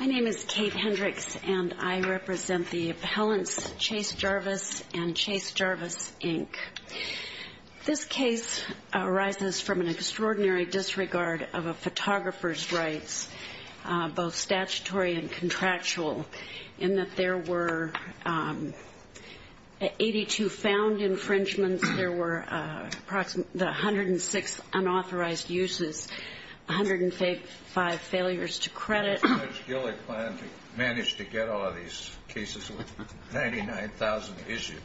My name is Kate Hendricks and I represent the appellants Chase Jarvis and Chase Jarvis Inc. This case arises from an extraordinary disregard of a photographer's rights, both because there were the 106 unauthorized uses, 105 failures to credit. Why did Judge Gillick plan to manage to get all of these cases with 99,000 issues?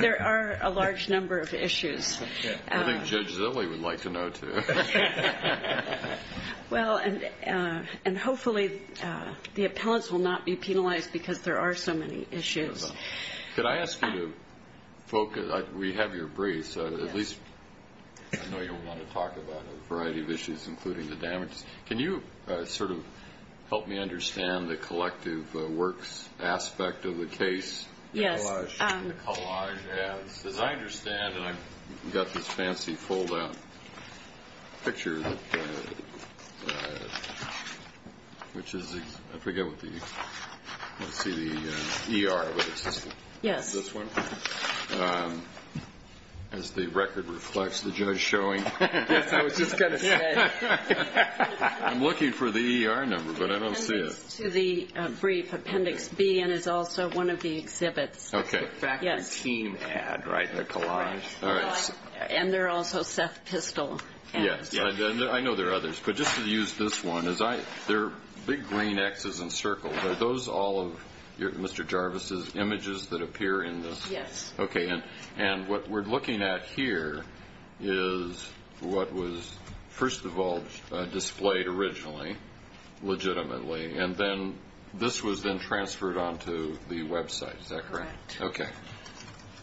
There are a large number of issues. I think Judge Zilley would like to know, too. And hopefully the appellants will not be penalized because there are so many issues. Could I ask you to focus, we have your briefs, at least I know you want to talk about a variety of issues including the damages. Can you sort of help me understand the collective works aspect of the case? Yes. The collage. The collage, yes. As I understand, and I've got this fancy fold-out picture, which is, I forget what the, let's see the ER, but it's this one. Yes. As the record reflects the judge showing. Yes, I was just going to say. I'm looking for the ER number, but I don't see it. It goes to the brief appendix B and is also one of the exhibits. Okay. Yes. The team ad, right? The collage. All right. And there are also Seth Pistol ads. Yes. I know there are others, but just to use this one, there are big green X's and circles. Are those all of Mr. Jarvis' images that appear in this? Yes. Okay. And what we're looking at here is what was first of all displayed originally, legitimately, and then this was then transferred onto the website. Is that correct? Correct. Okay.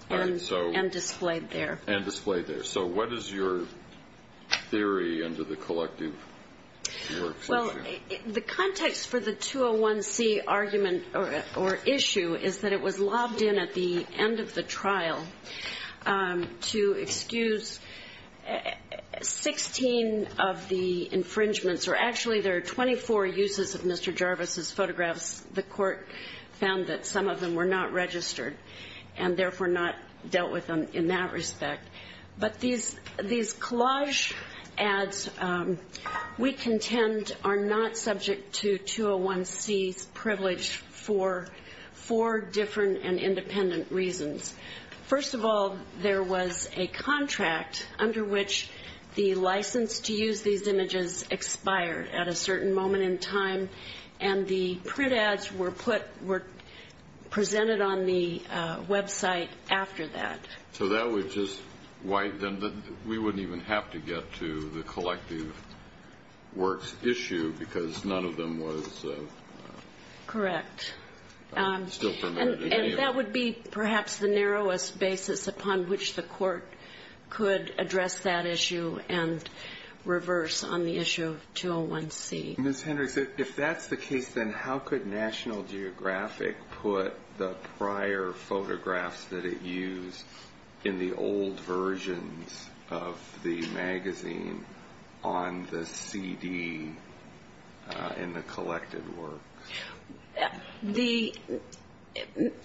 And displayed there. And displayed there. So what is your theory into the collective work situation? Well, the context for the 201C argument or issue is that it was lobbed in at the end of the trial to excuse 16 of the infringements, or actually there are 24 uses of Mr. Jarvis' photographs. The court found that some of them were not registered and therefore not dealt with in that respect. But these collage ads, we contend, are not subject to 201C's privilege for four different and independent reasons. First of all, there was a contract under which the license to use these images expired at a certain moment in time, and the print ads were presented on the website after that. So that would just wipe them. We wouldn't even have to get to the collective works issue because none of them was still permitted. Correct. And that would be perhaps the narrowest basis upon which the court could address that issue and reverse on the issue of 201C. Ms. Hendricks, if that's the case,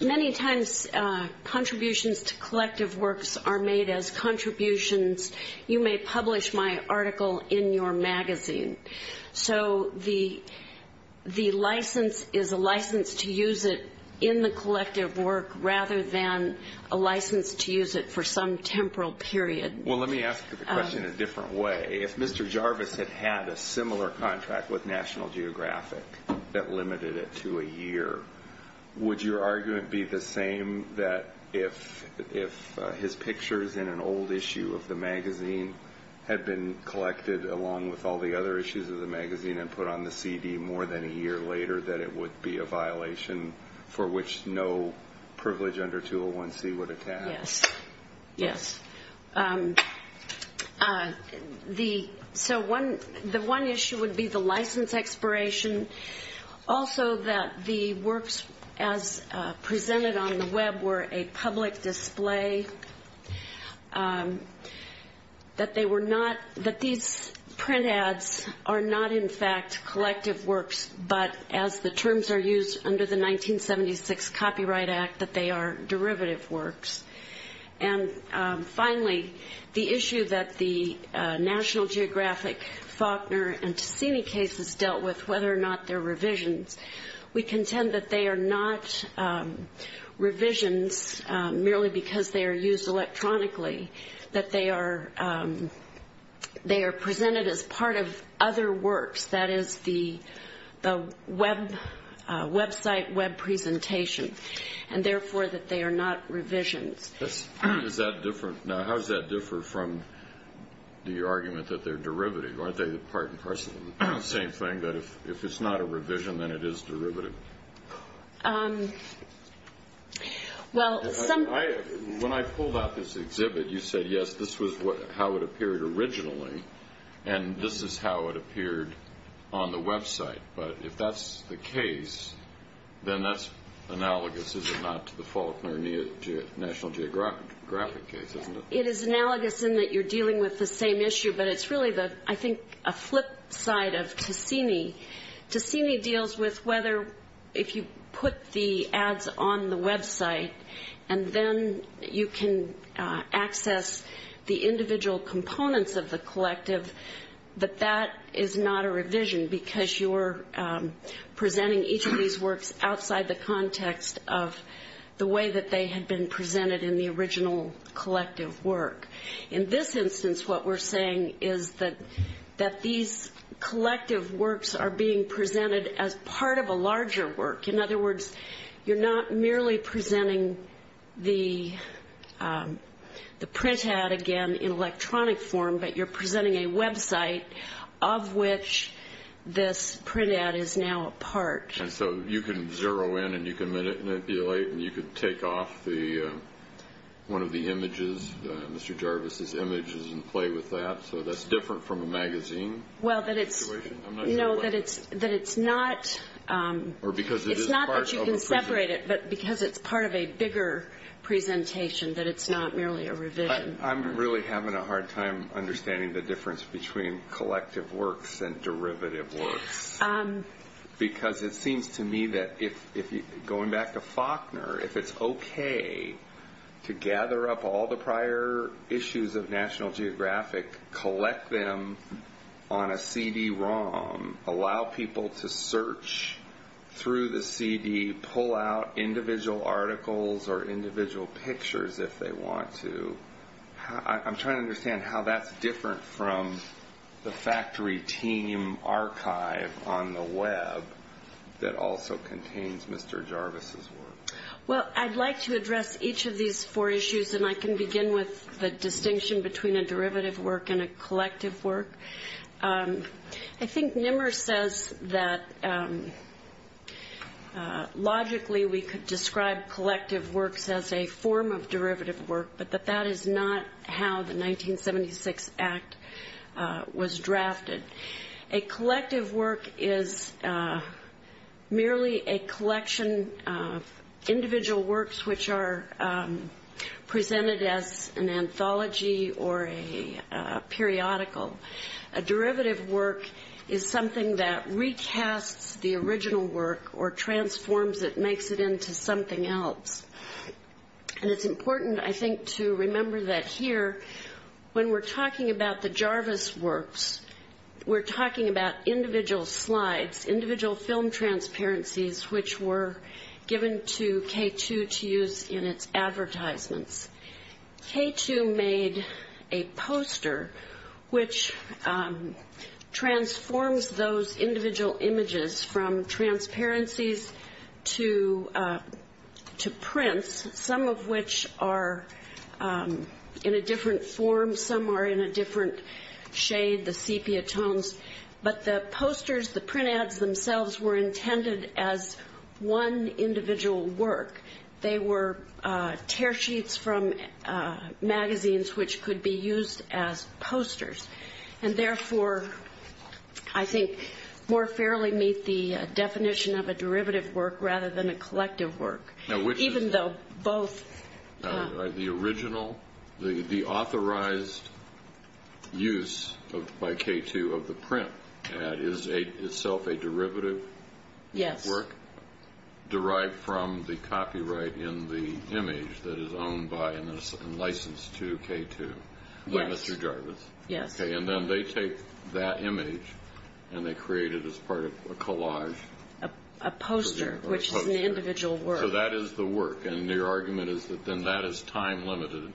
Many times contributions to collective works are made as contributions. You may publish my article in your magazine. So the license is a license to use it in the collective work rather than a license to use it for some temporal period. Well, let me ask you the question in a different way. If Mr. Jarvis had had a similar contract with National Geographic that limited it to a year, would your argument be the same that if his pictures in an old issue of the magazine had been collected along with all the other issues of the magazine and put on the CD more than a year later, that it would be a violation for which no privilege under 201C would attach? Yes, yes. So the one issue would be the license expiration. Also that the works as presented on the web were a public display, that these print ads are not in fact collective works, but as the terms are used under the 1976 Copyright Act, that they are derivative works. And finally, the issue that the National Geographic, Faulkner, and Tassini cases dealt with, whether or not they're revisions. We contend that they are not revisions merely because they are used electronically, that they are presented as part of other works. That is the website web presentation. And therefore, that they are not revisions. How does that differ from the argument that they're derivative? Aren't they part and parcel of the same thing, that if it's not a revision, then it is derivative? When I pulled out this exhibit, you said, yes, this was how it appeared originally, and this is how it appeared on the website. But if that's the case, then that's analogous, is it not, to the Faulkner National Geographic case, isn't it? It is analogous in that you're dealing with the same issue, but it's really, I think, a flip side of Tassini. Tassini deals with whether, if you put the ads on the website, and then you can access the individual components of the collective, that that is not a revision because you're presenting each of these works outside the context of the way that they had been presented in the original collective work. In this instance, what we're saying is that these collective works are being presented as part of a larger work. In other words, you're not merely presenting the print ad, again, in electronic form, but you're presenting a website of which this print ad is now a part. And so you can zero in and you can manipulate and you can take off one of the images, Mr. Jarvis's images, and play with that, so that's different from a magazine situation? No, that it's not that you can separate it, but because it's part of a bigger presentation, that it's not merely a revision. I'm really having a hard time understanding the difference between collective works and derivative works. Because it seems to me that going back to Faulkner, if it's okay to gather up all the prior issues of National Geographic, collect them on a CD-ROM, allow people to search through the CD, pull out individual articles or individual pictures if they want to. I'm trying to understand how that's different from the factory team archive on the web that also contains Mr. Jarvis's work. Well, I'd like to address each of these four issues, and I can begin with the distinction between a derivative work and a collective work. I think Nimmer says that logically we could describe collective works as a form of derivative work, but that that is not how the 1976 Act was drafted. A collective work is merely a collection of individual works which are presented as an anthology or a periodical. A derivative work is something that recasts the original work or transforms it, makes it into something else. And it's important, I think, to remember that here, when we're talking about the Jarvis works, we're talking about individual slides, individual film transparencies, which were given to K2 to use in its advertisements. K2 made a poster which transforms those individual images from transparencies to prints, some of which are in a different form, some are in a different shade, the sepia tones. But the posters, the print ads themselves, were intended as one individual work. They were tear sheets from magazines which could be used as posters, and therefore, I think, more fairly meet the definition of a derivative work rather than a collective work. The authorized use by K2 of the print ad is itself a derivative work? Yes. Derived from the copyright in the image that is owned by and licensed to K2 by Mr. Jarvis? Yes. And then they take that image and they create it as part of a collage. A poster, which is an individual work. So that is the work, and your argument is that then that is time limited. Correct.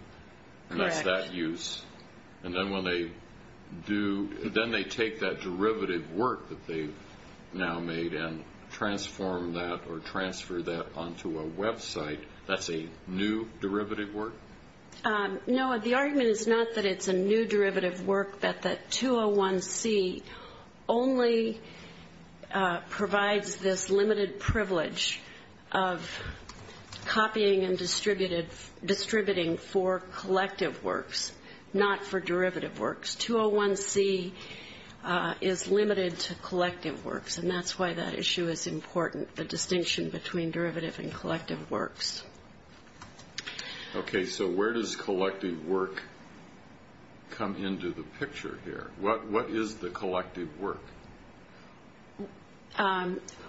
And that's that use. And then when they do, then they take that derivative work that they've now made and transform that or transfer that onto a website, that's a new derivative work? No, the argument is not that it's a new derivative work, but that 201C only provides this limited privilege of copying and distributing for collective works, not for derivative works. 201C is limited to collective works, and that's why that issue is important, the distinction between derivative and collective works. Okay, so where does collective work come into the picture here? What is the collective work?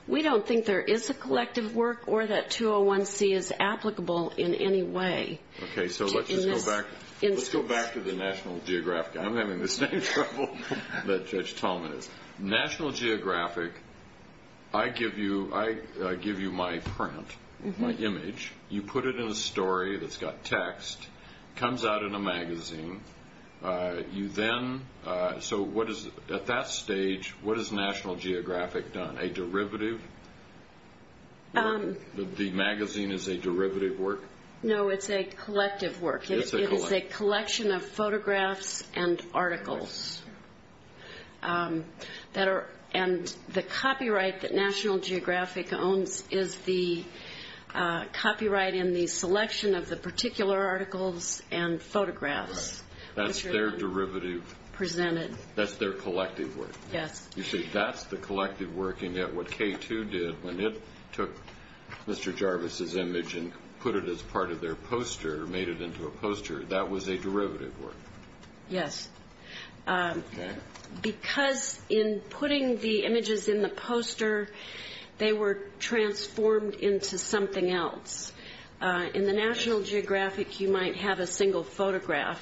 We don't think there is a collective work or that 201C is applicable in any way. Okay, so let's just go back to the National Geographic. I'm having the same trouble that Judge Tallman is. National Geographic, I give you my print, my image. You put it in a story that's got text. It comes out in a magazine. So at that stage, what has National Geographic done, a derivative? The magazine is a derivative work? No, it's a collective work. It is a collection of photographs and articles, and the copyright that National Geographic owns is the copyright in the selection of the particular articles and photographs. That's their derivative? Presented. That's their collective work? Yes. You say that's the collective work, and yet what K2 did when it took Mr. Jarvis's image and put it as part of their poster, made it into a poster, that was a derivative work? Yes. Okay. Because in putting the images in the poster, they were transformed into something else. In the National Geographic, you might have a single photograph,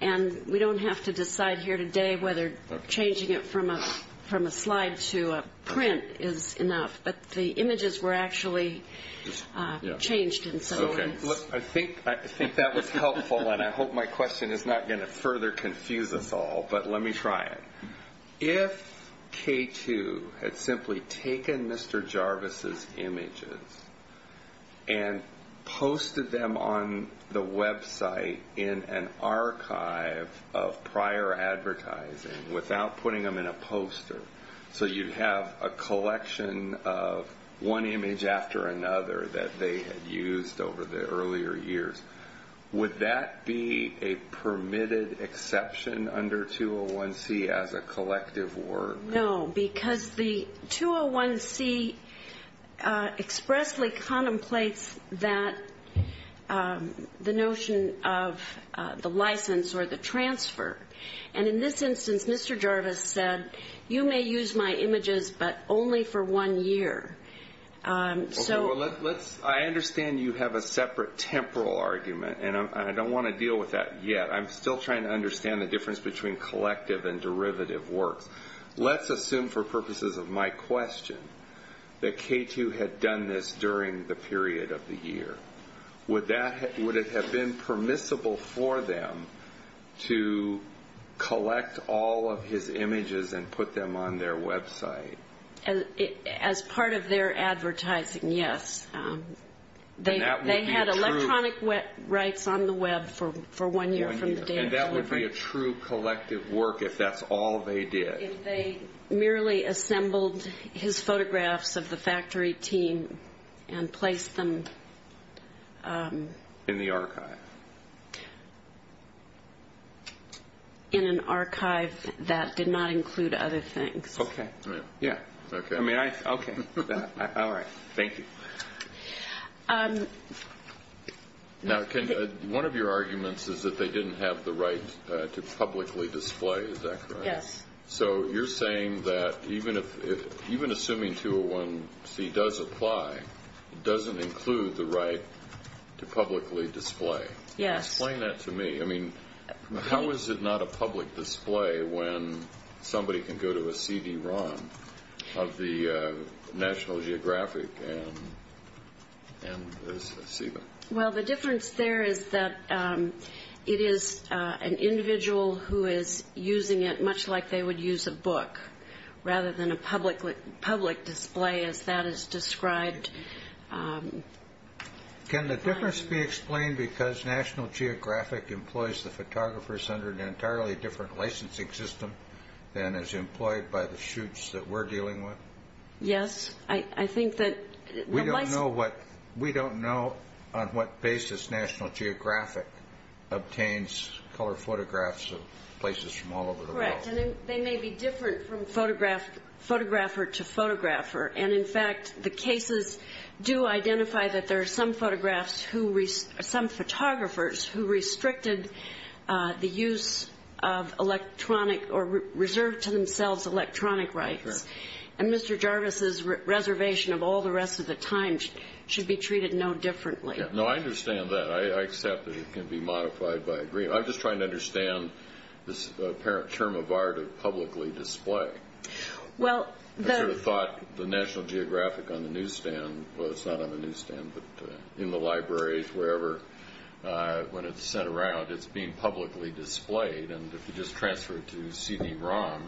and we don't have to decide here today whether changing it from a slide to a print is enough, but the images were actually changed in some ways. I think that was helpful, and I hope my question is not going to further confuse us all, but let me try it. If K2 had simply taken Mr. Jarvis's images and posted them on the website in an archive of prior advertising without putting them in a poster so you'd have a collection of one image after another that they had used over the earlier years, would that be a permitted exception under 201C as a collective work? No, because the 201C expressly contemplates the notion of the license or the transfer. And in this instance, Mr. Jarvis said, you may use my images, but only for one year. I understand you have a separate temporal argument, and I don't want to deal with that yet. I'm still trying to understand the difference between collective and derivative works. Let's assume for purposes of my question that K2 had done this during the period of the year. Would it have been permissible for them to collect all of his images and put them on their website? As part of their advertising, yes. They had electronic rights on the web for one year from the day of delivery. And that would be a true collective work if that's all they did? If they merely assembled his photographs of the factory team and placed them in an archive that did not include other things. Okay. Yeah. Okay. All right. Thank you. Now, one of your arguments is that they didn't have the right to publicly display, is that correct? Yes. So you're saying that even assuming 201C does apply, it doesn't include the right to publicly display. Yes. Explain that to me. I mean, how is it not a public display when somebody can go to a CD-ROM of the National Geographic and see them? Well, the difference there is that it is an individual who is using it much like they would use a book, rather than a public display as that is described. Can the difference be explained because National Geographic employs the photographers under an entirely different licensing system than is employed by the shoots that we're dealing with? Yes. I think that the license – We don't know what – we don't know on what basis National Geographic obtains color photographs of places from all over the world. Correct. And they may be different from photographer to photographer. And, in fact, the cases do identify that there are some photographers who restricted the use of electronic or reserved to themselves electronic rights. Correct. And Mr. Jarvis's reservation of all the rest of the time should be treated no differently. No, I understand that. I accept that it can be modified by agreement. I'm just trying to understand this apparent term of art of publicly display. Well, the – I sort of thought the National Geographic on the newsstand – well, it's not on the newsstand, but in the libraries, wherever, when it's sent around, it's being publicly displayed. And if you just transfer it to CD-ROM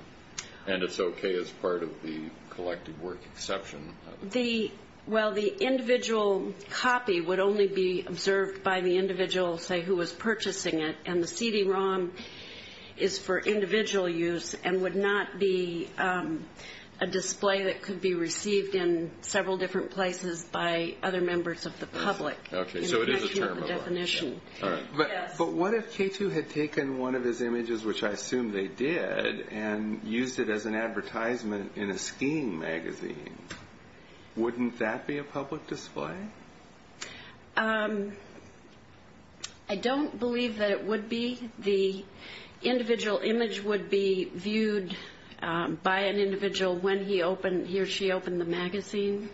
and it's okay as part of the collected work exception. The – well, the individual copy would only be observed by the individual, say, who was purchasing it. And the CD-ROM is for individual use and would not be a display that could be received in several different places by other members of the public. Okay, so it is a term of art. But what if K2 had taken one of his images, which I assume they did, and used it as an advertisement in a skiing magazine? Wouldn't that be a public display? I don't believe that it would be. The individual image would be viewed by an individual when he or she opened the magazine.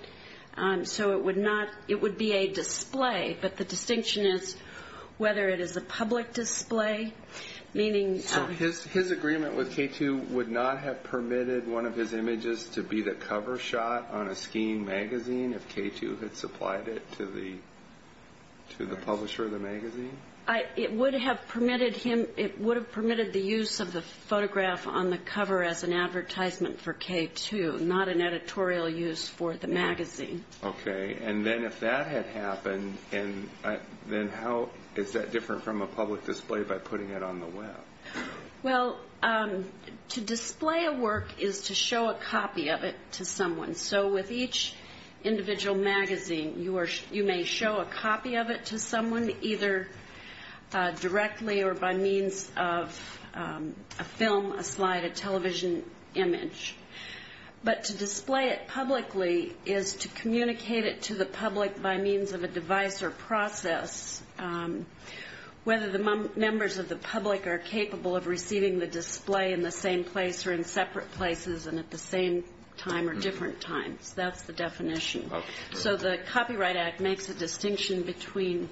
So it would not – it would be a display. But the distinction is whether it is a public display, meaning – So his agreement with K2 would not have permitted one of his images to be the cover shot on a skiing magazine if K2 had supplied it to the publisher of the magazine? It would have permitted him – it would have permitted the use of the photograph on the cover as an advertisement for K2, not an editorial use for the magazine. Okay, and then if that had happened, then how – is that different from a public display by putting it on the web? Well, to display a work is to show a copy of it to someone. So with each individual magazine, you may show a copy of it to someone, either directly or by means of a film, a slide, a television image. But to display it publicly is to communicate it to the public by means of a device or process, whether the members of the public are capable of receiving the display in the same place or in separate places and at the same time or different times. That's the definition. So the Copyright Act makes a distinction between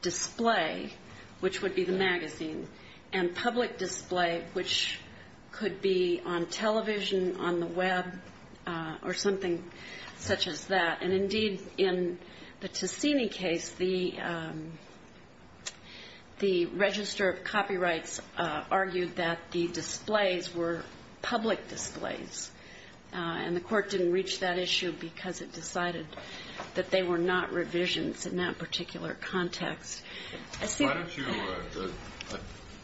display, which would be the magazine, and public display, which could be on television, on the web, or something such as that. And indeed, in the Tassini case, the Register of Copyrights argued that the displays were public displays, and the court didn't reach that issue because it decided that they were not revisions in that particular context. I see – Why don't you – I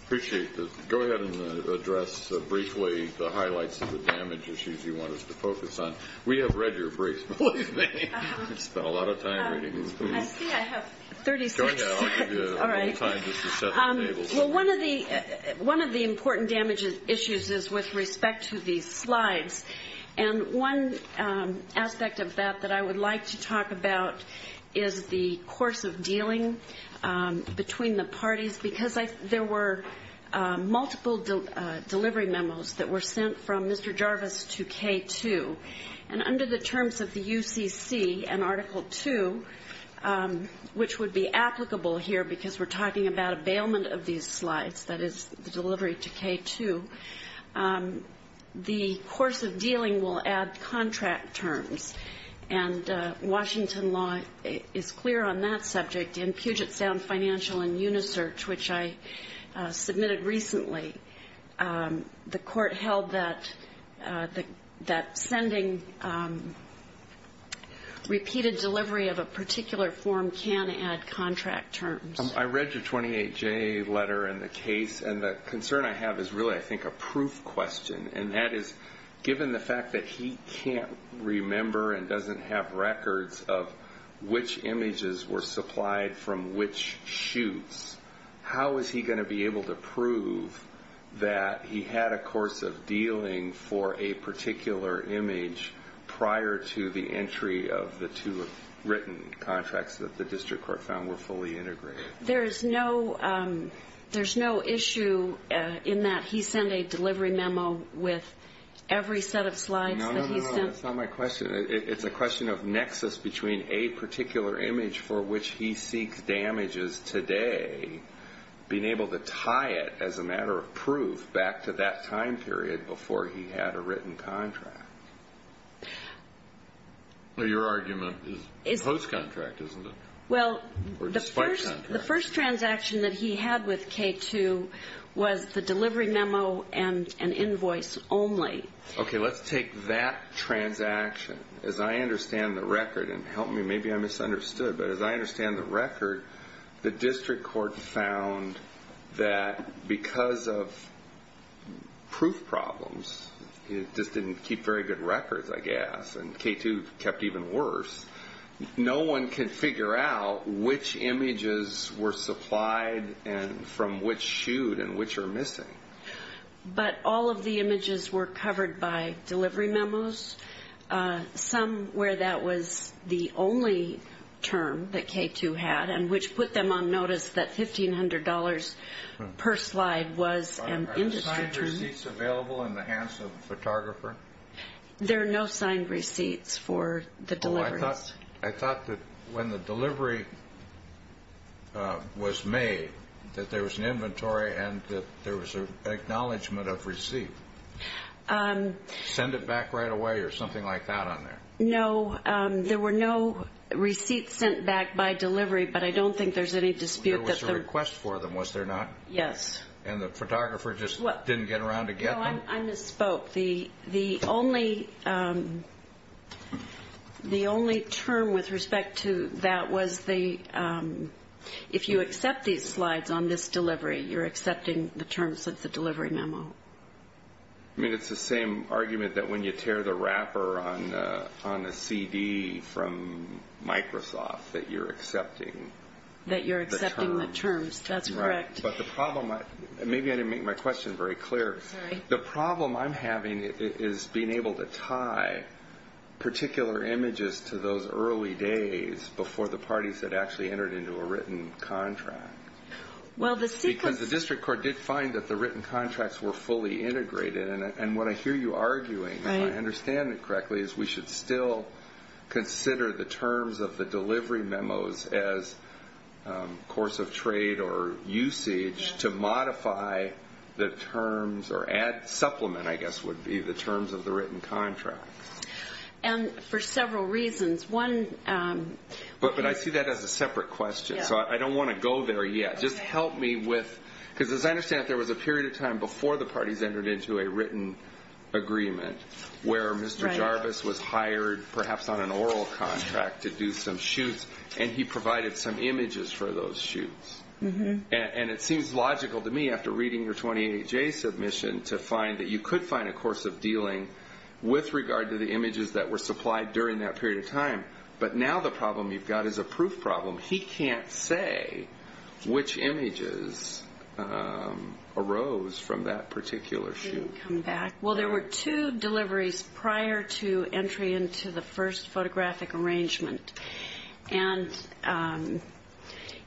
appreciate the – go ahead and address briefly the highlights of the damage issues you want us to focus on. We have read your briefs, believe me. You've spent a lot of time reading these things. I see I have 36. Go ahead. I'll give you a little time just to set the table. Well, one of the important damage issues is with respect to these slides, and one aspect of that that I would like to talk about is the course of dealing between the parties because there were multiple delivery memos that were sent from Mr. Jarvis to K2. And under the terms of the UCC and Article 2, which would be applicable here because we're talking about a bailment of these slides, that is, the delivery to K2, the course of dealing will add contract terms. And Washington law is clear on that subject. In Puget Sound Financial and Unisearch, which I submitted recently, the court held that sending repeated delivery of a particular form can add contract terms. I read your 28J letter and the case, and the concern I have is really, I think, a proof question, and that is, given the fact that he can't remember and doesn't have records of which images were supplied from which shoots, how is he going to be able to prove that he had a course of dealing for a particular image prior to the entry of the two written contracts that the district court found were fully integrated? There is no issue in that he sent a delivery memo with every set of slides that he sent. No, no, no, that's not my question. It's a question of nexus between a particular image for which he seeks damages today, being able to tie it as a matter of proof back to that time period before he had a written contract. Your argument is post-contract, isn't it? Well, the first transaction that he had with K2 was the delivery memo and an invoice only. Okay, let's take that transaction. As I understand the record, and help me, maybe I misunderstood, but as I understand the record, the district court found that because of proof problems, he just didn't keep very good records, I guess, and K2 kept even worse, no one can figure out which images were supplied from which shoot and which are missing. But all of the images were covered by delivery memos, some where that was the only term that K2 had, and which put them on notice that $1,500 per slide was an industry term. Are the signed receipts available in the hands of a photographer? There are no signed receipts for the deliveries. Oh, I thought that when the delivery was made, that there was an inventory and that there was an acknowledgment of receipt. Send it back right away or something like that on there? No, there were no receipts sent back by delivery, but I don't think there's any dispute that the- There was a request for them, was there not? Yes. And the photographer just didn't get around to get them? No, I misspoke. The only term with respect to that was the- if you accept these slides on this delivery, you're accepting the terms of the delivery memo. I mean, it's the same argument that when you tear the wrapper on a CD from Microsoft that you're accepting the terms. That you're accepting the terms, that's correct. Maybe I didn't make my question very clear. Sorry. The problem I'm having is being able to tie particular images to those early days before the parties had actually entered into a written contract. Well, the sequence- Because the district court did find that the written contracts were fully integrated, and what I hear you arguing, if I understand it correctly, is we should still consider the terms of the delivery memos as course of trade or usage to modify the terms, or supplement, I guess, would be the terms of the written contracts. And for several reasons. One- But I see that as a separate question, so I don't want to go there yet. Just help me with- because as I understand it, there was a period of time before the parties entered into a written agreement where Mr. Jarvis was hired, perhaps on an oral contract, to do some shoots, and he provided some images for those shoots. And it seems logical to me, after reading your 28-J submission, to find that you could find a course of dealing with regard to the images that were supplied during that period of time. But now the problem you've got is a proof problem. He can't say which images arose from that particular shoot. Well, there were two deliveries prior to entry into the first photographic arrangement. And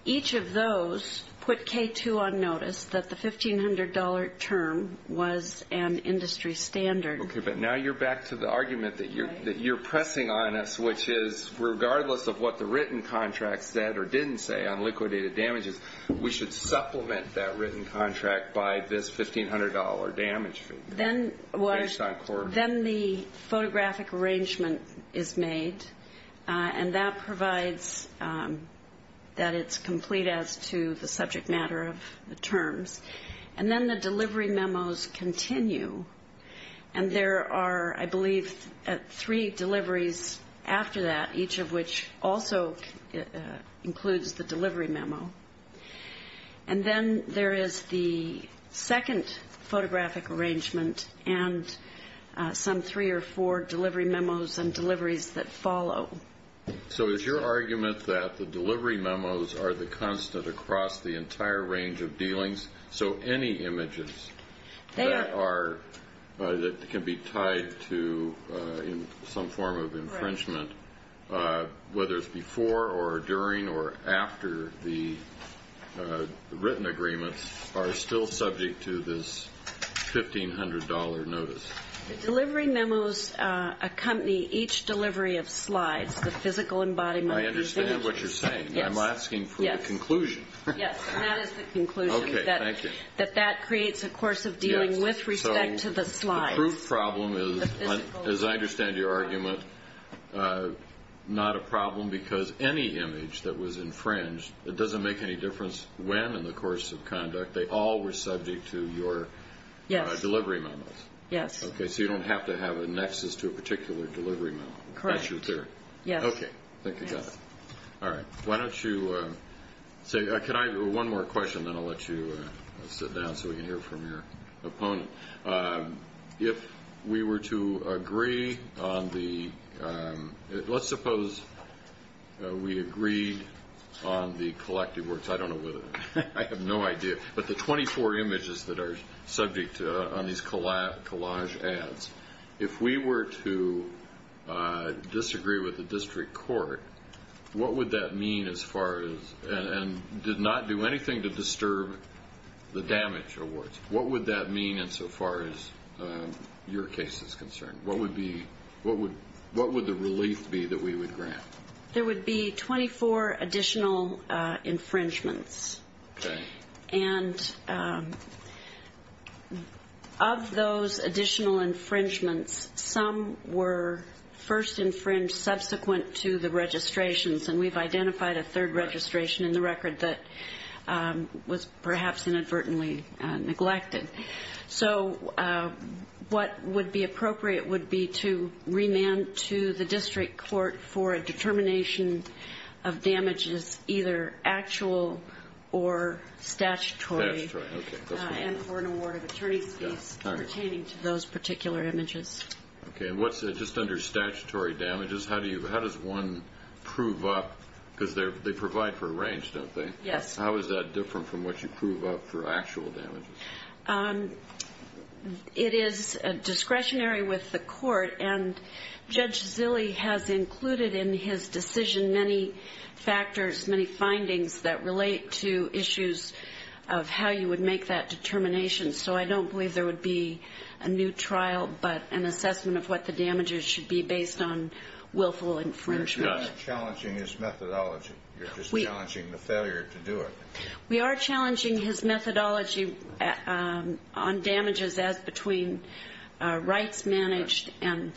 each of those put K2 on notice that the $1,500 term was an industry standard. Okay, but now you're back to the argument that you're pressing on us, which is regardless of what the written contract said or didn't say on liquidated damages, we should supplement that written contract by this $1,500 damage fee. Then the photographic arrangement is made, and that provides that it's complete as to the subject matter of the terms. And then the delivery memos continue, and there are, I believe, three deliveries after that, each of which also includes the delivery memo. And then there is the second photographic arrangement and some three or four delivery memos and deliveries that follow. So is your argument that the delivery memos are the constant across the entire range of dealings? So any images that can be tied to some form of infringement, whether it's before or during or after the written agreements, are still subject to this $1,500 notice? The delivery memos accompany each delivery of slides, the physical embodiment of these images. I understand what you're saying. I'm asking for the conclusion. Yes, and that is the conclusion. Okay, thank you. That that creates a course of dealing with respect to the slides. So the proof problem is, as I understand your argument, not a problem because any image that was infringed, it doesn't make any difference when in the course of conduct. They all were subject to your delivery memos. Yes. Okay, so you don't have to have a nexus to a particular delivery memo. Correct. That's your theory? Yes. Okay, thank you. All right, why don't you say one more question, then I'll let you sit down so we can hear from your opponent. If we were to agree on the – let's suppose we agreed on the collective works. I don't know whether – I have no idea. But the 24 images that are subject on these collage ads, if we were to disagree with the district court, what would that mean as far as – and did not do anything to disturb the damage awards. What would that mean insofar as your case is concerned? What would the relief be that we would grant? There would be 24 additional infringements. Okay. And of those additional infringements, some were first infringed subsequent to the registrations, and we've identified a third registration in the record that was perhaps inadvertently neglected. So what would be appropriate would be to remand to the district court for a determination of damages, either actual or statutory, and for an award of attorney's fees pertaining to those particular images. Okay, and what's – just under statutory damages, how does one prove up – because they provide for a range, don't they? Yes. How is that different from what you prove up for actual damages? It is discretionary with the court, and Judge Zille has included in his decision many factors, many findings that relate to issues of how you would make that determination. So I don't believe there would be a new trial but an assessment of what the damages should be based on willful infringement. You're not challenging his methodology. You're just challenging the failure to do it. We are challenging his methodology on damages as between rights managed and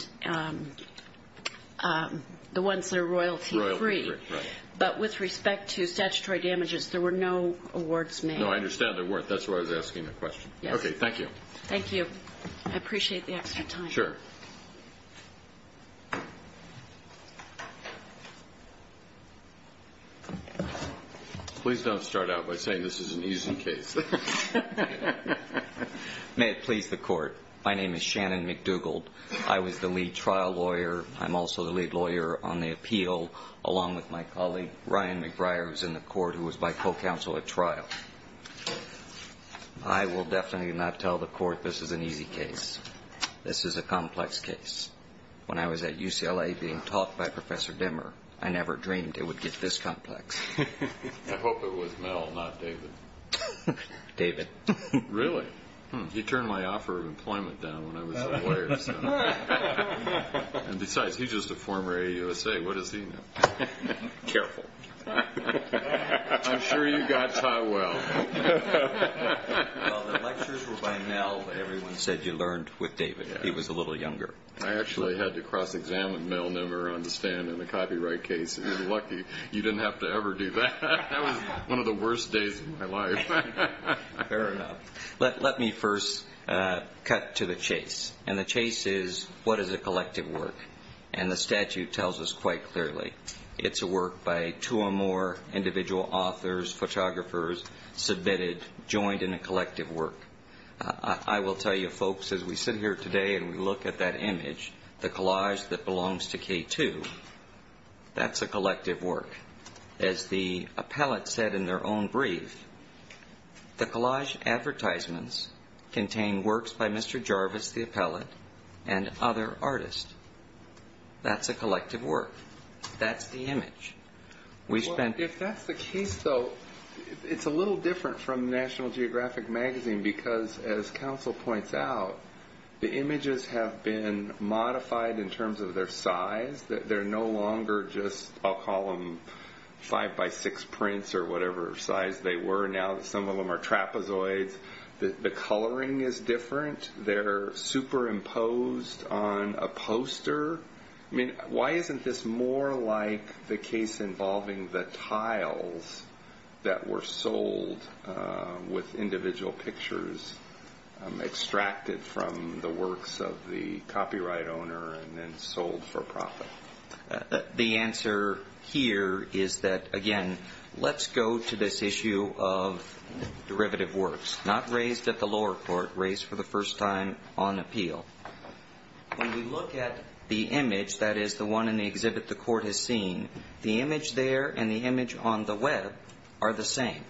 the ones that are royalty-free. Royalty-free, right. But with respect to statutory damages, there were no awards made. No, I understand there weren't. That's why I was asking the question. Yes. Okay, thank you. Thank you. I appreciate the extra time. Sure. Please don't start out by saying this is an easy case. May it please the Court. My name is Shannon McDougald. I was the lead trial lawyer. I'm also the lead lawyer on the appeal along with my colleague, Ryan McBriar, who's in the court, who was my co-counsel at trial. I will definitely not tell the Court this is an easy case. This is a complex case. When I was at UCLA being taught by Professor Dimmer, I never dreamed it would get this complex. I hope it was Mel, not David. David. Really? He turned my offer of employment down when I was a lawyer. And besides, he's just a former AUSA. What does he know? Careful. I'm sure you got Ty well. Well, the lectures were by Mel. Everyone said you learned with David. He was a little younger. I actually had to cross-examine Mel Nimmer on the stand in the copyright case. You're lucky you didn't have to ever do that. That was one of the worst days of my life. Fair enough. Let me first cut to the chase. And the chase is what is a collective work. And the statute tells us quite clearly. It's a work by two or more individual authors, photographers, submitted, joined in a collective work. I will tell you, folks, as we sit here today and we look at that image, the collage that belongs to K2, that's a collective work. As the appellate said in their own brief, the collage advertisements contain works by Mr. Jarvis, the appellate, and other artists. That's a collective work. That's the image. If that's the case, though, it's a little different from National Geographic Magazine because, as counsel points out, the images have been modified in terms of their size. They're no longer just, I'll call them, five-by-six prints or whatever size they were. Now some of them are trapezoids. The coloring is different. They're superimposed on a poster. Why isn't this more like the case involving the tiles that were sold with individual pictures extracted from the works of the copyright owner and then sold for profit? The answer here is that, again, let's go to this issue of derivative works, not raised at the lower court, raised for the first time on appeal. When we look at the image, that is, the one in the exhibit the court has seen, the image there and the image on the web are the same.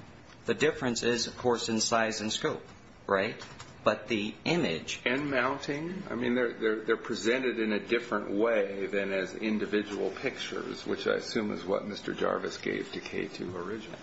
The difference is, of course, in size and scope, right? But the image ---- And mounting? I mean, they're presented in a different way than as individual pictures, which I assume is what Mr. Jarvis gave to K2 original.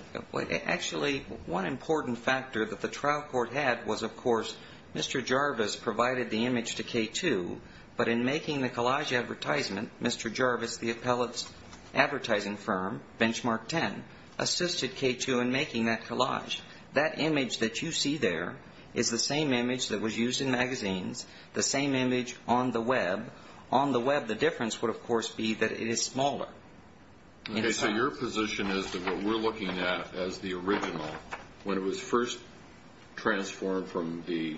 Actually, one important factor that the trial court had was, of course, Mr. Jarvis provided the image to K2, but in making the collage advertisement, Mr. Jarvis, the appellate's advertising firm, Benchmark 10, assisted K2 in making that collage. That image that you see there is the same image that was used in magazines, the same image on the web. On the web, the difference would, of course, be that it is smaller. So your position is that what we're looking at as the original, when it was first transformed from the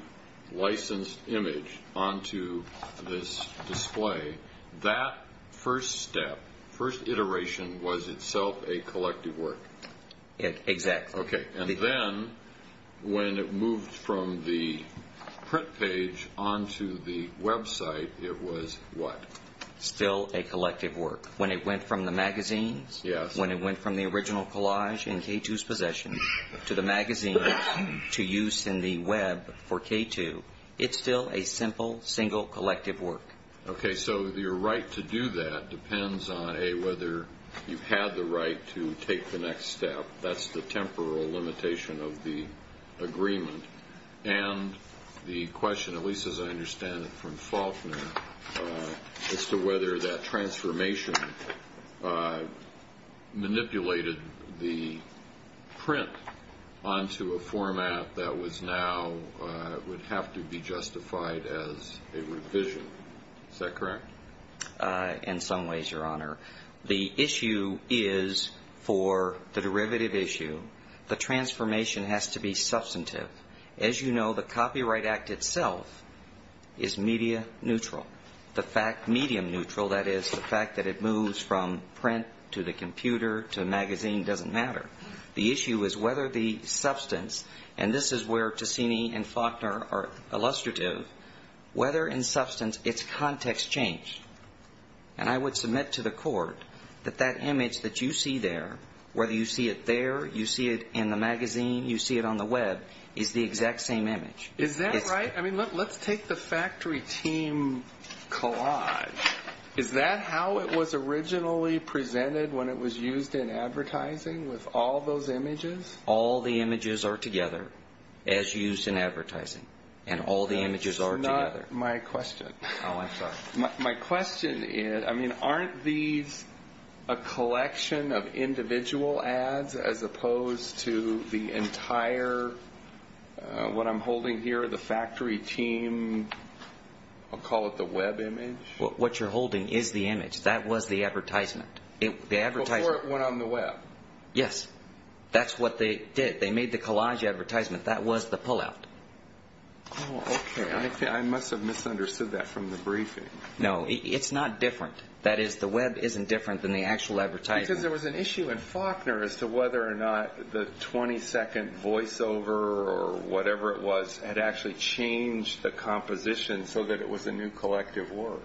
licensed image onto this display, that first step, first iteration, was itself a collective work? Exactly. Okay. And then when it moved from the print page onto the website, it was what? Still a collective work. When it went from the magazines, when it went from the original collage in K2's possession to the magazine to use in the web for K2, it's still a simple, single, collective work. Okay. So your right to do that depends on whether you had the right to take the next step. That's the temporal limitation of the agreement. And the question, at least as I understand it from Faulkner, as to whether that transformation manipulated the print onto a format that was now would have to be justified as a revision. Is that correct? In some ways, Your Honor. The issue is, for the derivative issue, the transformation has to be substantive. As you know, the Copyright Act itself is media neutral. The fact, medium neutral, that is, the fact that it moves from print to the computer to magazine doesn't matter. The issue is whether the substance, and this is where Tessini and Faulkner are illustrative, whether in substance its context changed. And I would submit to the Court that that image that you see there, whether you see it there, you see it in the magazine, you see it on the Web, is the exact same image. Is that right? I mean, let's take the factory team collage. Is that how it was originally presented when it was used in advertising, with all those images? All the images are together, as used in advertising. And all the images are together. That's not my question. Oh, I'm sorry. My question is, I mean, aren't these a collection of individual ads as opposed to the entire, what I'm holding here, the factory team, I'll call it the Web image? What you're holding is the image. That was the advertisement. Before it went on the Web. Yes. That's what they did. They made the collage advertisement. That was the pullout. Oh, okay. I must have misunderstood that from the briefing. No. It's not different. That is, the Web isn't different than the actual advertisement. Because there was an issue in Faulkner as to whether or not the 20-second voiceover or whatever it was had actually changed the composition so that it was a new collective work.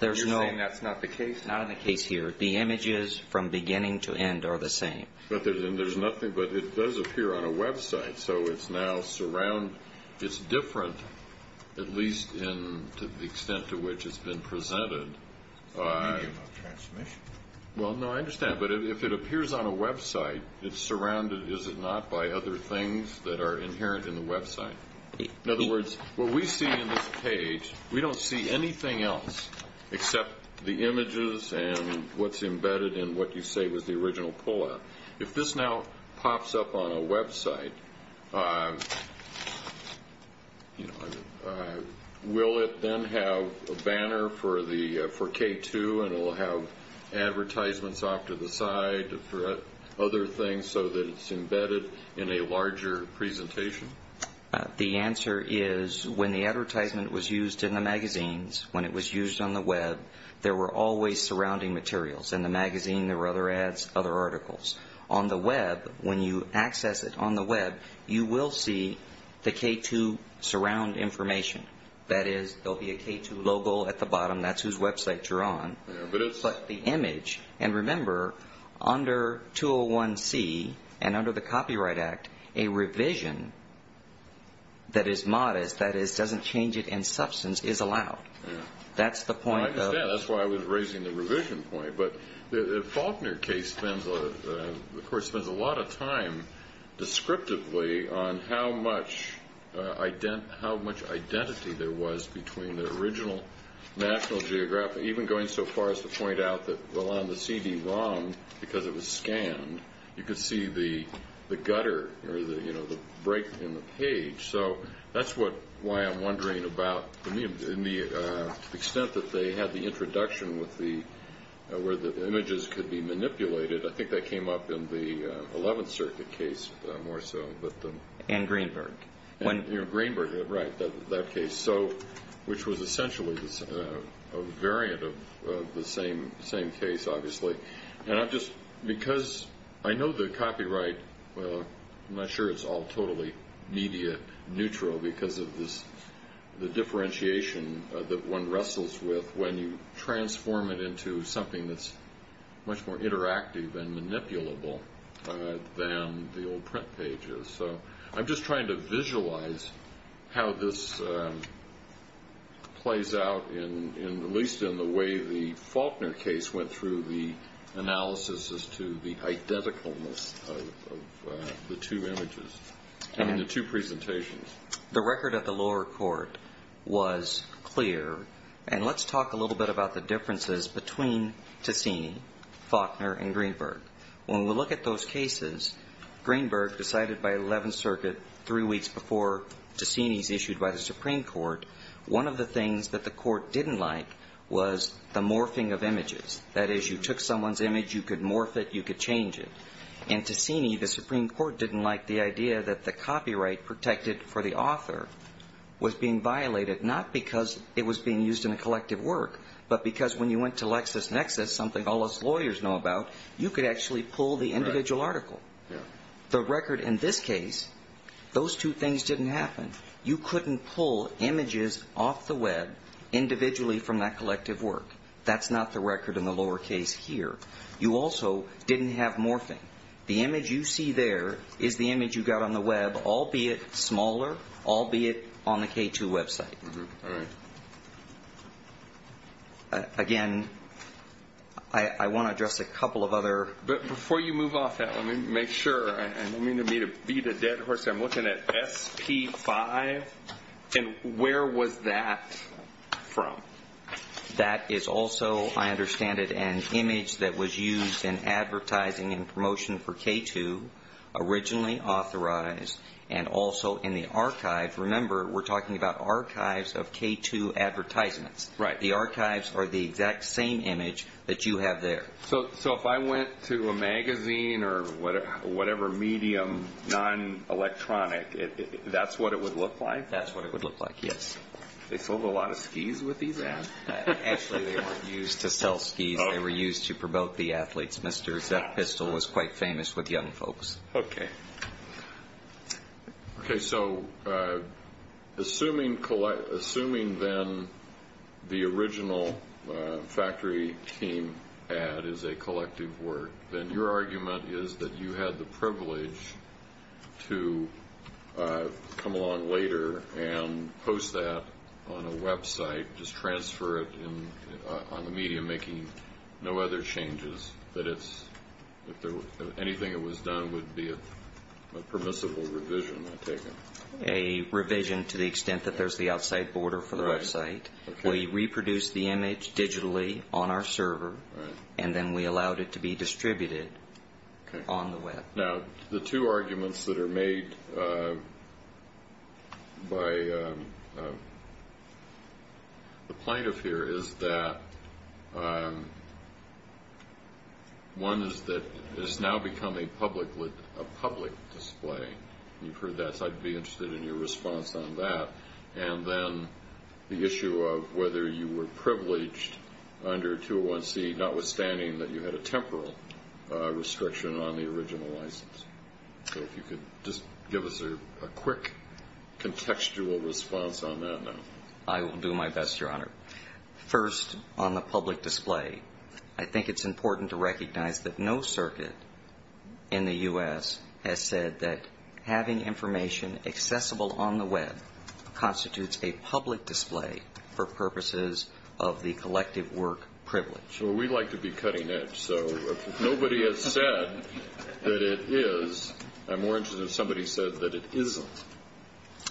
You're saying that's not the case? Not in the case here. The images from beginning to end are the same. But it does appear on a Web site, so it's now surround. It's different, at least in the extent to which it's been presented. It's a medium of transmission. Well, no, I understand. But if it appears on a Web site, it's surrounded, is it not, by other things that are inherent in the Web site. In other words, what we see in this page, we don't see anything else except the images and what's embedded in what you say was the original pullout. If this now pops up on a Web site, will it then have a banner for K2 and it will have advertisements off to the side, other things, so that it's embedded in a larger presentation? The answer is when the advertisement was used in the magazines, when it was used on the Web, there were always surrounding materials. In the magazine, there were other ads, other articles. On the Web, when you access it on the Web, you will see the K2 surround information. That is, there will be a K2 logo at the bottom. That's whose Web site you're on. But it's like the image. And remember, under 201C and under the Copyright Act, a revision that is modest, that doesn't change it in substance, is allowed. That's the point. I understand. That's why I was raising the revision point. But the Faulkner case spends a lot of time, descriptively, on how much identity there was between the original National Geographic, even going so far as to point out that on the CD-ROM, because it was scanned, you could see the gutter or the break in the page. So that's why I'm wondering about the extent that they had the introduction where the images could be manipulated. I think that came up in the 11th Circuit case more so. And Greenberg. Greenberg, right, that case. Which was essentially a variant of the same case, obviously. And I'm just, because I know the copyright, I'm not sure it's all totally media neutral because of the differentiation that one wrestles with when you transform it into something that's much more interactive and manipulable than the old print pages. So I'm just trying to visualize how this plays out, at least in the way the Faulkner case went through the analysis as to the identicalness of the two images, the two presentations. The record at the lower court was clear. And let's talk a little bit about the differences between Ticine, Faulkner, and Greenberg. When we look at those cases, Greenberg decided by 11th Circuit three weeks before Ticine's issued by the Supreme Court, one of the things that the court didn't like was the morphing of images. That is, you took someone's image, you could morph it, you could change it. And Ticine, the Supreme Court didn't like the idea that the copyright protected for the author was being violated, not because it was being used in a collective work, but because when you went to LexisNexis, something all us lawyers know about, you could actually pull the individual article. The record in this case, those two things didn't happen. You couldn't pull images off the web individually from that collective work. That's not the record in the lower case here. You also didn't have morphing. The image you see there is the image you got on the web, albeit smaller, albeit on the K2 website. All right. Again, I want to address a couple of other. But before you move off that, let me make sure. I don't mean to beat a dead horse. I'm looking at SP5. And where was that from? That is also, I understand it, an image that was used in advertising and promotion for K2, originally authorized, and also in the archives. Remember, we're talking about archives of K2 advertisements. Right. The archives are the exact same image that you have there. So if I went to a magazine or whatever medium, non-electronic, that's what it would look like? That's what it would look like, yes. They sold a lot of skis with these ads? Actually, they weren't used to sell skis. They were used to promote the athletes. Mr. Zepp-Pistol was quite famous with young folks. Okay. Okay, so assuming then the original factory team ad is a collective work, then your argument is that you had the privilege to come along later and post that on a website, just transfer it on the media, making no other changes, that anything that was done would be a permissible revision, I take it? A revision to the extent that there's the outside border for the website. We reproduced the image digitally on our server, and then we allowed it to be distributed on the web. Now, the two arguments that are made by the plaintiff here is that one is that it has now become a public display. You've heard that, so I'd be interested in your response on that. And then the issue of whether you were privileged under 201C, notwithstanding that you had a temporal restriction on the original license. So if you could just give us a quick contextual response on that now. I will do my best, Your Honor. First, on the public display, I think it's important to recognize that no circuit in the U.S. has said that having information accessible on the web constitutes a public display for purposes of the collective work privilege. Well, we like to be cutting edge, so if nobody has said that it is, I'm more interested in if somebody said that it isn't.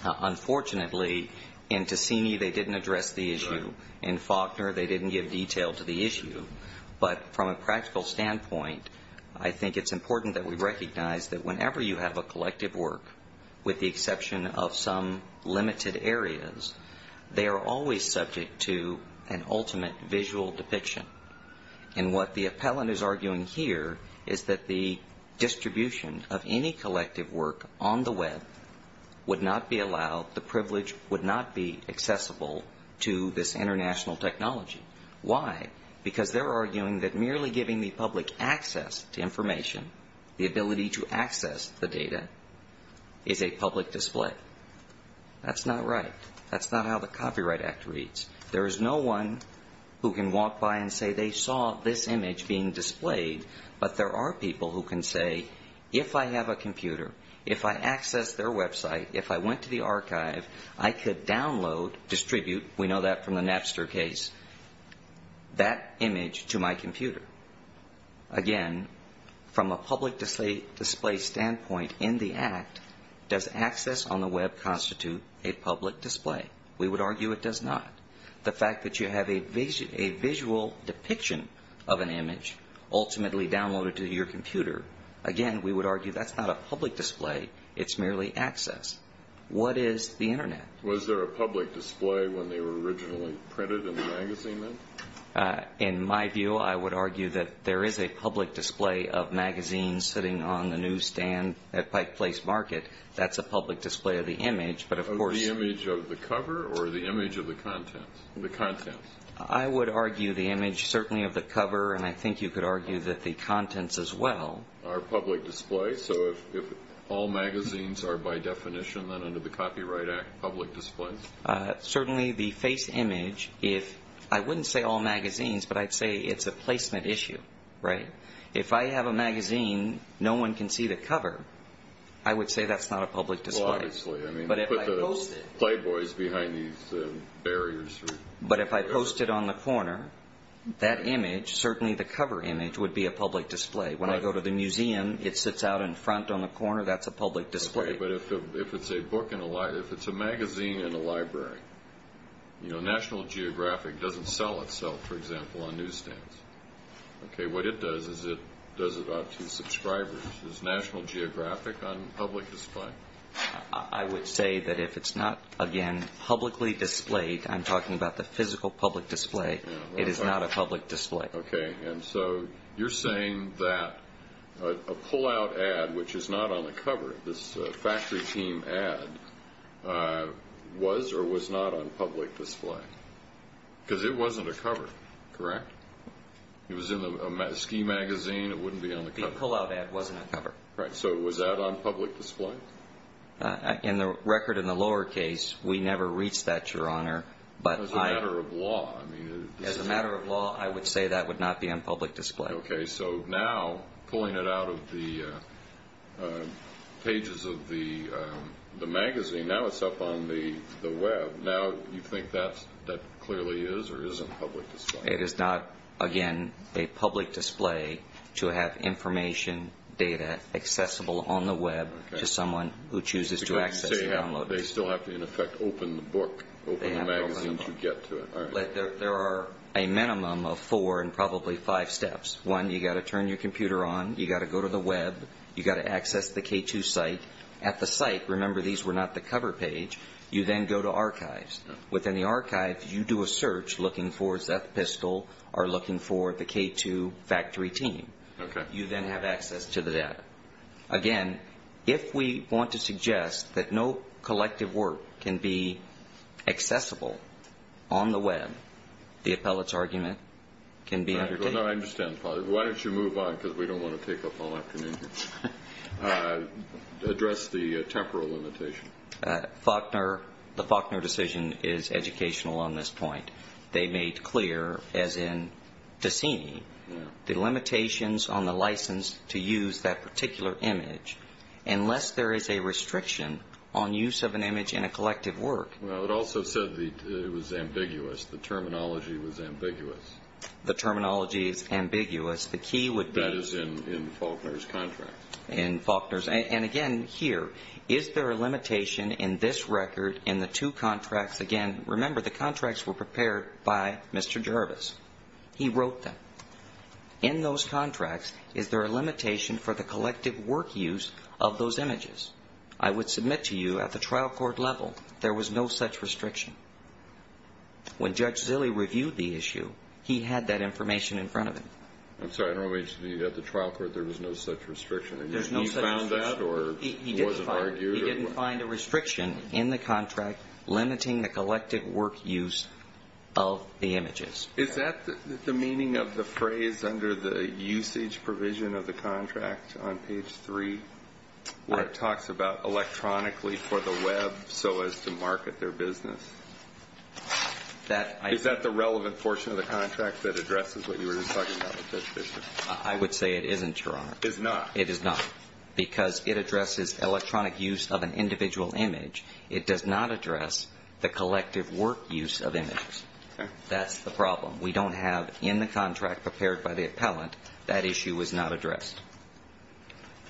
Unfortunately, in Tassini, they didn't address the issue. In Faulkner, they didn't give detail to the issue. But from a practical standpoint, I think it's important that we recognize that whenever you have a collective work, with the exception of some limited areas, they are always subject to an ultimate visual depiction. And what the appellant is arguing here is that the distribution of any collective work on the web would not be allowed, the privilege would not be accessible to this international technology. Why? Because they're arguing that merely giving the public access to information, the ability to access the data, is a public display. That's not right. That's not how the Copyright Act reads. There is no one who can walk by and say they saw this image being displayed, but there are people who can say, if I have a computer, if I access their website, if I went to the archive, I could download, distribute, we know that from the Napster case, that image to my computer. Again, from a public display standpoint in the Act, does access on the web constitute a public display? We would argue it does not. The fact that you have a visual depiction of an image ultimately downloaded to your computer, again, we would argue that's not a public display, it's merely access. What is the Internet? Was there a public display when they were originally printed in the magazine then? In my view, I would argue that there is a public display of magazines sitting on the newsstand at Pike Place Market. That's a public display of the image, but of course- Of the image of the cover or the image of the contents? I would argue the image certainly of the cover, and I think you could argue that the contents as well- Are public display, so if all magazines are by definition then under the Copyright Act public displays? Certainly the face image, I wouldn't say all magazines, but I'd say it's a placement issue, right? If I have a magazine, no one can see the cover, I would say that's not a public display. Well, obviously. But if I post it- You put the Playboys behind these barriers. But if I post it on the corner, that image, certainly the cover image, would be a public display. When I go to the museum, it sits out in front on the corner, that's a public display. But if it's a book in a library, if it's a magazine in a library, National Geographic doesn't sell itself, for example, on newsstands. What it does is it does it out to subscribers. Is National Geographic on public display? I would say that if it's not, again, publicly displayed, I'm talking about the physical public display, it is not a public display. Okay. And so you're saying that a pull-out ad, which is not on the cover, this factory team ad, was or was not on public display? Because it wasn't a cover, correct? It was in a ski magazine, it wouldn't be on the cover. The pull-out ad wasn't a cover. Right. So was that on public display? In the record in the lower case, we never reached that, Your Honor. As a matter of law, I mean- That would not be on public display. Okay. So now, pulling it out of the pages of the magazine, now it's up on the Web, now you think that clearly is or isn't public display? It is not, again, a public display to have information, data, accessible on the Web to someone who chooses to access it. They still have to, in effect, open the book, open the magazine to get to it. There are a minimum of four and probably five steps. One, you've got to turn your computer on, you've got to go to the Web, you've got to access the K2 site. At the site, remember these were not the cover page, you then go to archives. Within the archives, you do a search looking for Zeph Pistol or looking for the K2 factory team. You then have access to the data. Again, if we want to suggest that no collective work can be accessible on the Web, the appellate's argument can be- No, I understand, Father. Why don't you move on because we don't want to take up all afternoon here. Address the temporal limitation. Faulkner, the Faulkner decision is educational on this point. They made clear, as in Dessini, the limitations on the license to use that particular image. Unless there is a restriction on use of an image in a collective work- It also said it was ambiguous. The terminology was ambiguous. The terminology is ambiguous. The key would be- That is in Faulkner's contract. In Faulkner's. Again, here, is there a limitation in this record in the two contracts? Again, remember, the contracts were prepared by Mr. Jervis. He wrote them. In those contracts, is there a limitation for the collective work use of those images? I would submit to you at the trial court level, there was no such restriction. When Judge Zille reviewed the issue, he had that information in front of him. I'm sorry. At the trial court, there was no such restriction? There's no such restriction. He found that or he wasn't argued? He didn't find a restriction in the contract limiting the collective work use of the images. Is that the meaning of the phrase under the usage provision of the contract on page 3, where it talks about electronically for the web so as to market their business? Is that the relevant portion of the contract that addresses what you were just talking about? I would say it isn't, Your Honor. It's not? It is not because it addresses electronic use of an individual image. It does not address the collective work use of images. That's the problem. We don't have in the contract prepared by the appellant. That issue was not addressed.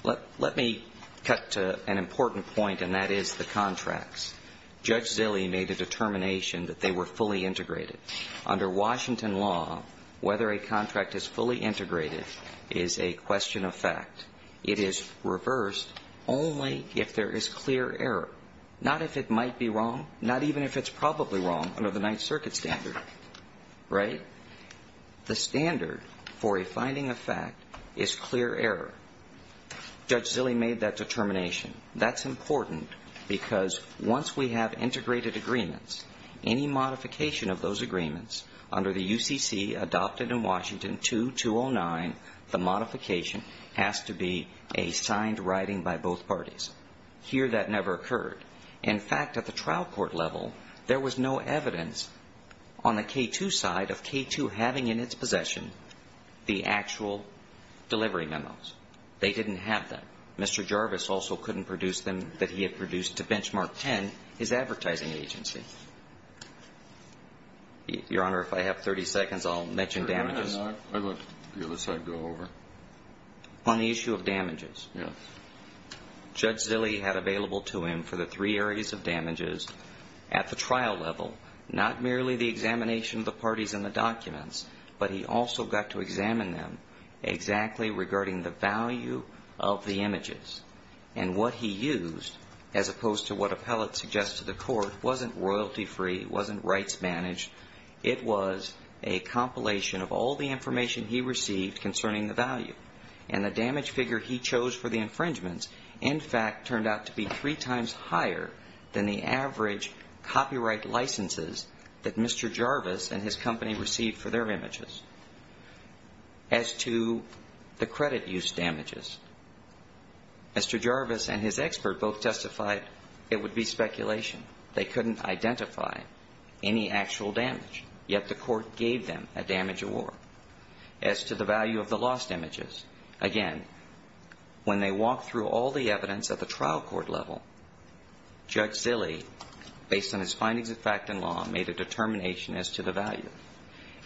Let me cut to an important point, and that is the contracts. Judge Zille made a determination that they were fully integrated. Under Washington law, whether a contract is fully integrated is a question of fact. It is reversed only if there is clear error, not if it might be wrong, not even if it's probably wrong under the Ninth Circuit standard, right? The standard for a finding of fact is clear error. Judge Zille made that determination. That's important because once we have integrated agreements, any modification of those agreements under the UCC adopted in Washington 2209, the modification has to be a signed writing by both parties. Here that never occurred. In fact, at the trial court level, there was no evidence on the K2 side of K2 having in its possession the actual delivery memos. They didn't have them. Mr. Jarvis also couldn't produce them that he had produced to Benchmark 10, his advertising agency. Your Honor, if I have 30 seconds, I'll mention damages. I'd let the other side go over. On the issue of damages. Yes. Judge Zille had available to him for the three areas of damages at the trial level, not merely the examination of the parties in the documents, but he also got to examine them exactly regarding the value of the images. And what he used, as opposed to what appellate suggests to the court, wasn't royalty-free, wasn't rights-managed. It was a compilation of all the information he received concerning the value. And the damage figure he chose for the infringements, in fact, turned out to be three times higher than the average copyright licenses that Mr. Jarvis and his company received for their images. As to the credit use damages, Mr. Jarvis and his expert both testified it would be speculation. They couldn't identify any actual damage, yet the court gave them a damage award. As to the value of the lost images, again, when they walked through all the evidence at the trial court level, Judge Zille, based on his findings of fact and law, made a determination as to the value.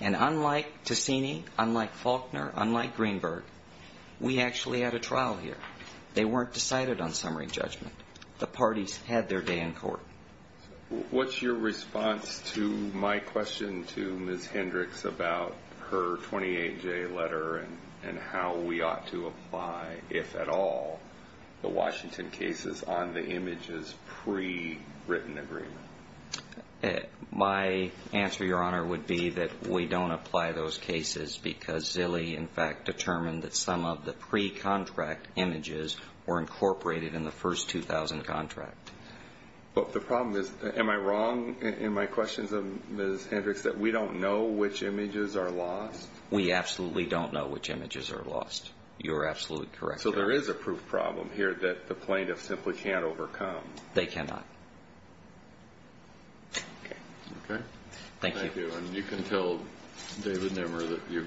And unlike Ticini, unlike Faulkner, unlike Greenberg, we actually had a trial here. They weren't decided on summary judgment. The parties had their day in court. What's your response to my question to Ms. Hendricks about her 28-J letter and how we ought to apply, if at all, the Washington cases on the images pre-written agreement? My answer, Your Honor, would be that we don't apply those cases because Zille, in fact, determined that some of the pre-contract images were incorporated in the first 2000 contract. But the problem is, am I wrong in my questions of Ms. Hendricks that we don't know which images are lost? We absolutely don't know which images are lost. You're absolutely correct, Your Honor. So there is a proof problem here that the plaintiff simply can't overcome. They cannot. Okay. Thank you. Thank you. And you can tell David Nimmer that you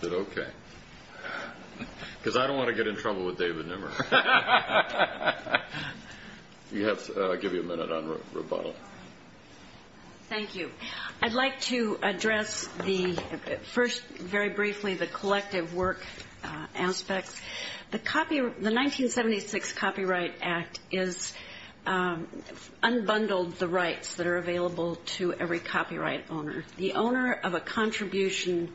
did okay. Because I don't want to get in trouble with David Nimmer. I'll give you a minute on rebuttal. Thank you. I'd like to address first, very briefly, the collective work aspects. The 1976 Copyright Act unbundled the rights that are available to every copyright owner. The owner of a contribution,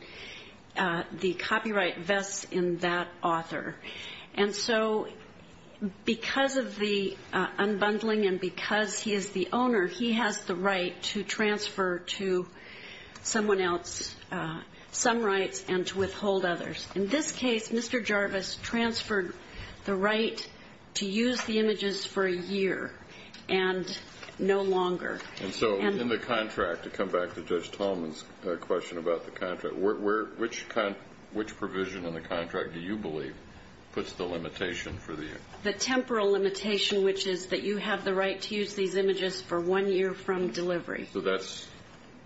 the copyright vests in that author. And so because of the unbundling and because he is the owner, he has the right to transfer to someone else some rights and to withhold others. In this case, Mr. Jarvis transferred the right to use the images for a year and no longer. And so in the contract, to come back to Judge Tolman's question about the contract, which provision in the contract do you believe puts the limitation for the year? The temporal limitation, which is that you have the right to use these images for one year from delivery. So that's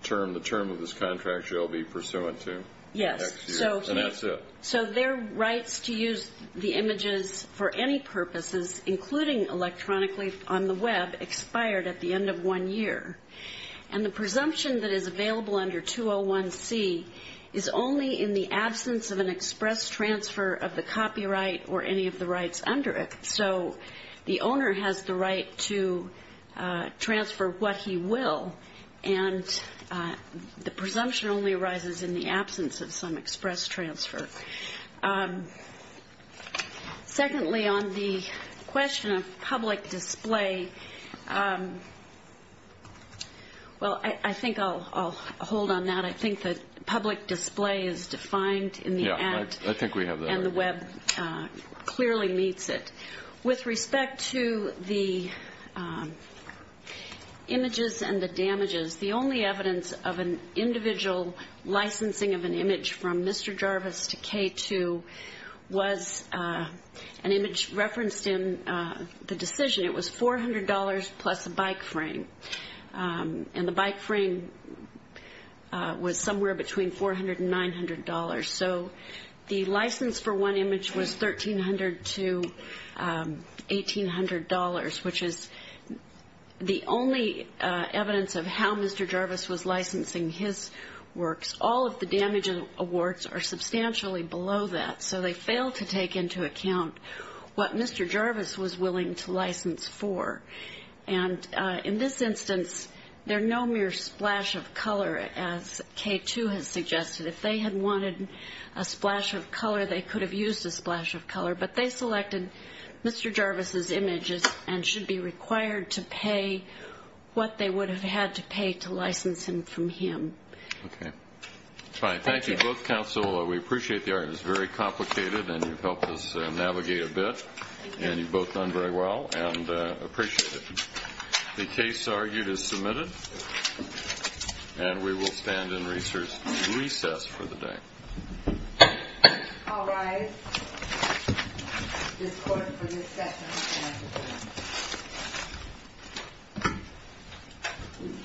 the term of this contract you'll be pursuant to? Yes. And that's it? So their rights to use the images for any purposes, including electronically on the Web, expired at the end of one year. And the presumption that is available under 201C is only in the absence of an express transfer of the copyright or any of the rights under it. So the owner has the right to transfer what he will, and the presumption only arises in the absence of some express transfer. Secondly, on the question of public display, well, I think I'll hold on that. I think that public display is defined in the Act. Yeah, I think we have that. And the Web clearly meets it. With respect to the images and the damages, the only evidence of an individual licensing of an image from Mr. Jarvis to K2 was an image referenced in the decision. It was $400 plus a bike frame, and the bike frame was somewhere between $400 and $900. So the license for one image was $1,300 to $1,800, which is the only evidence of how Mr. Jarvis was licensing his works. All of the damage awards are substantially below that, so they failed to take into account what Mr. Jarvis was willing to license for. And in this instance, they're no mere splash of color, as K2 has suggested. If they had wanted a splash of color, they could have used a splash of color. But they selected Mr. Jarvis's images and should be required to pay what they would have had to pay to license them from him. Okay. Fine. Thank you both, counsel. We appreciate the argument. It's very complicated, and you've helped us navigate a bit, and you've both done very well and appreciate it. The case argued is submitted, and we will stand in recess for the day. All rise. This court for discussion is adjourned.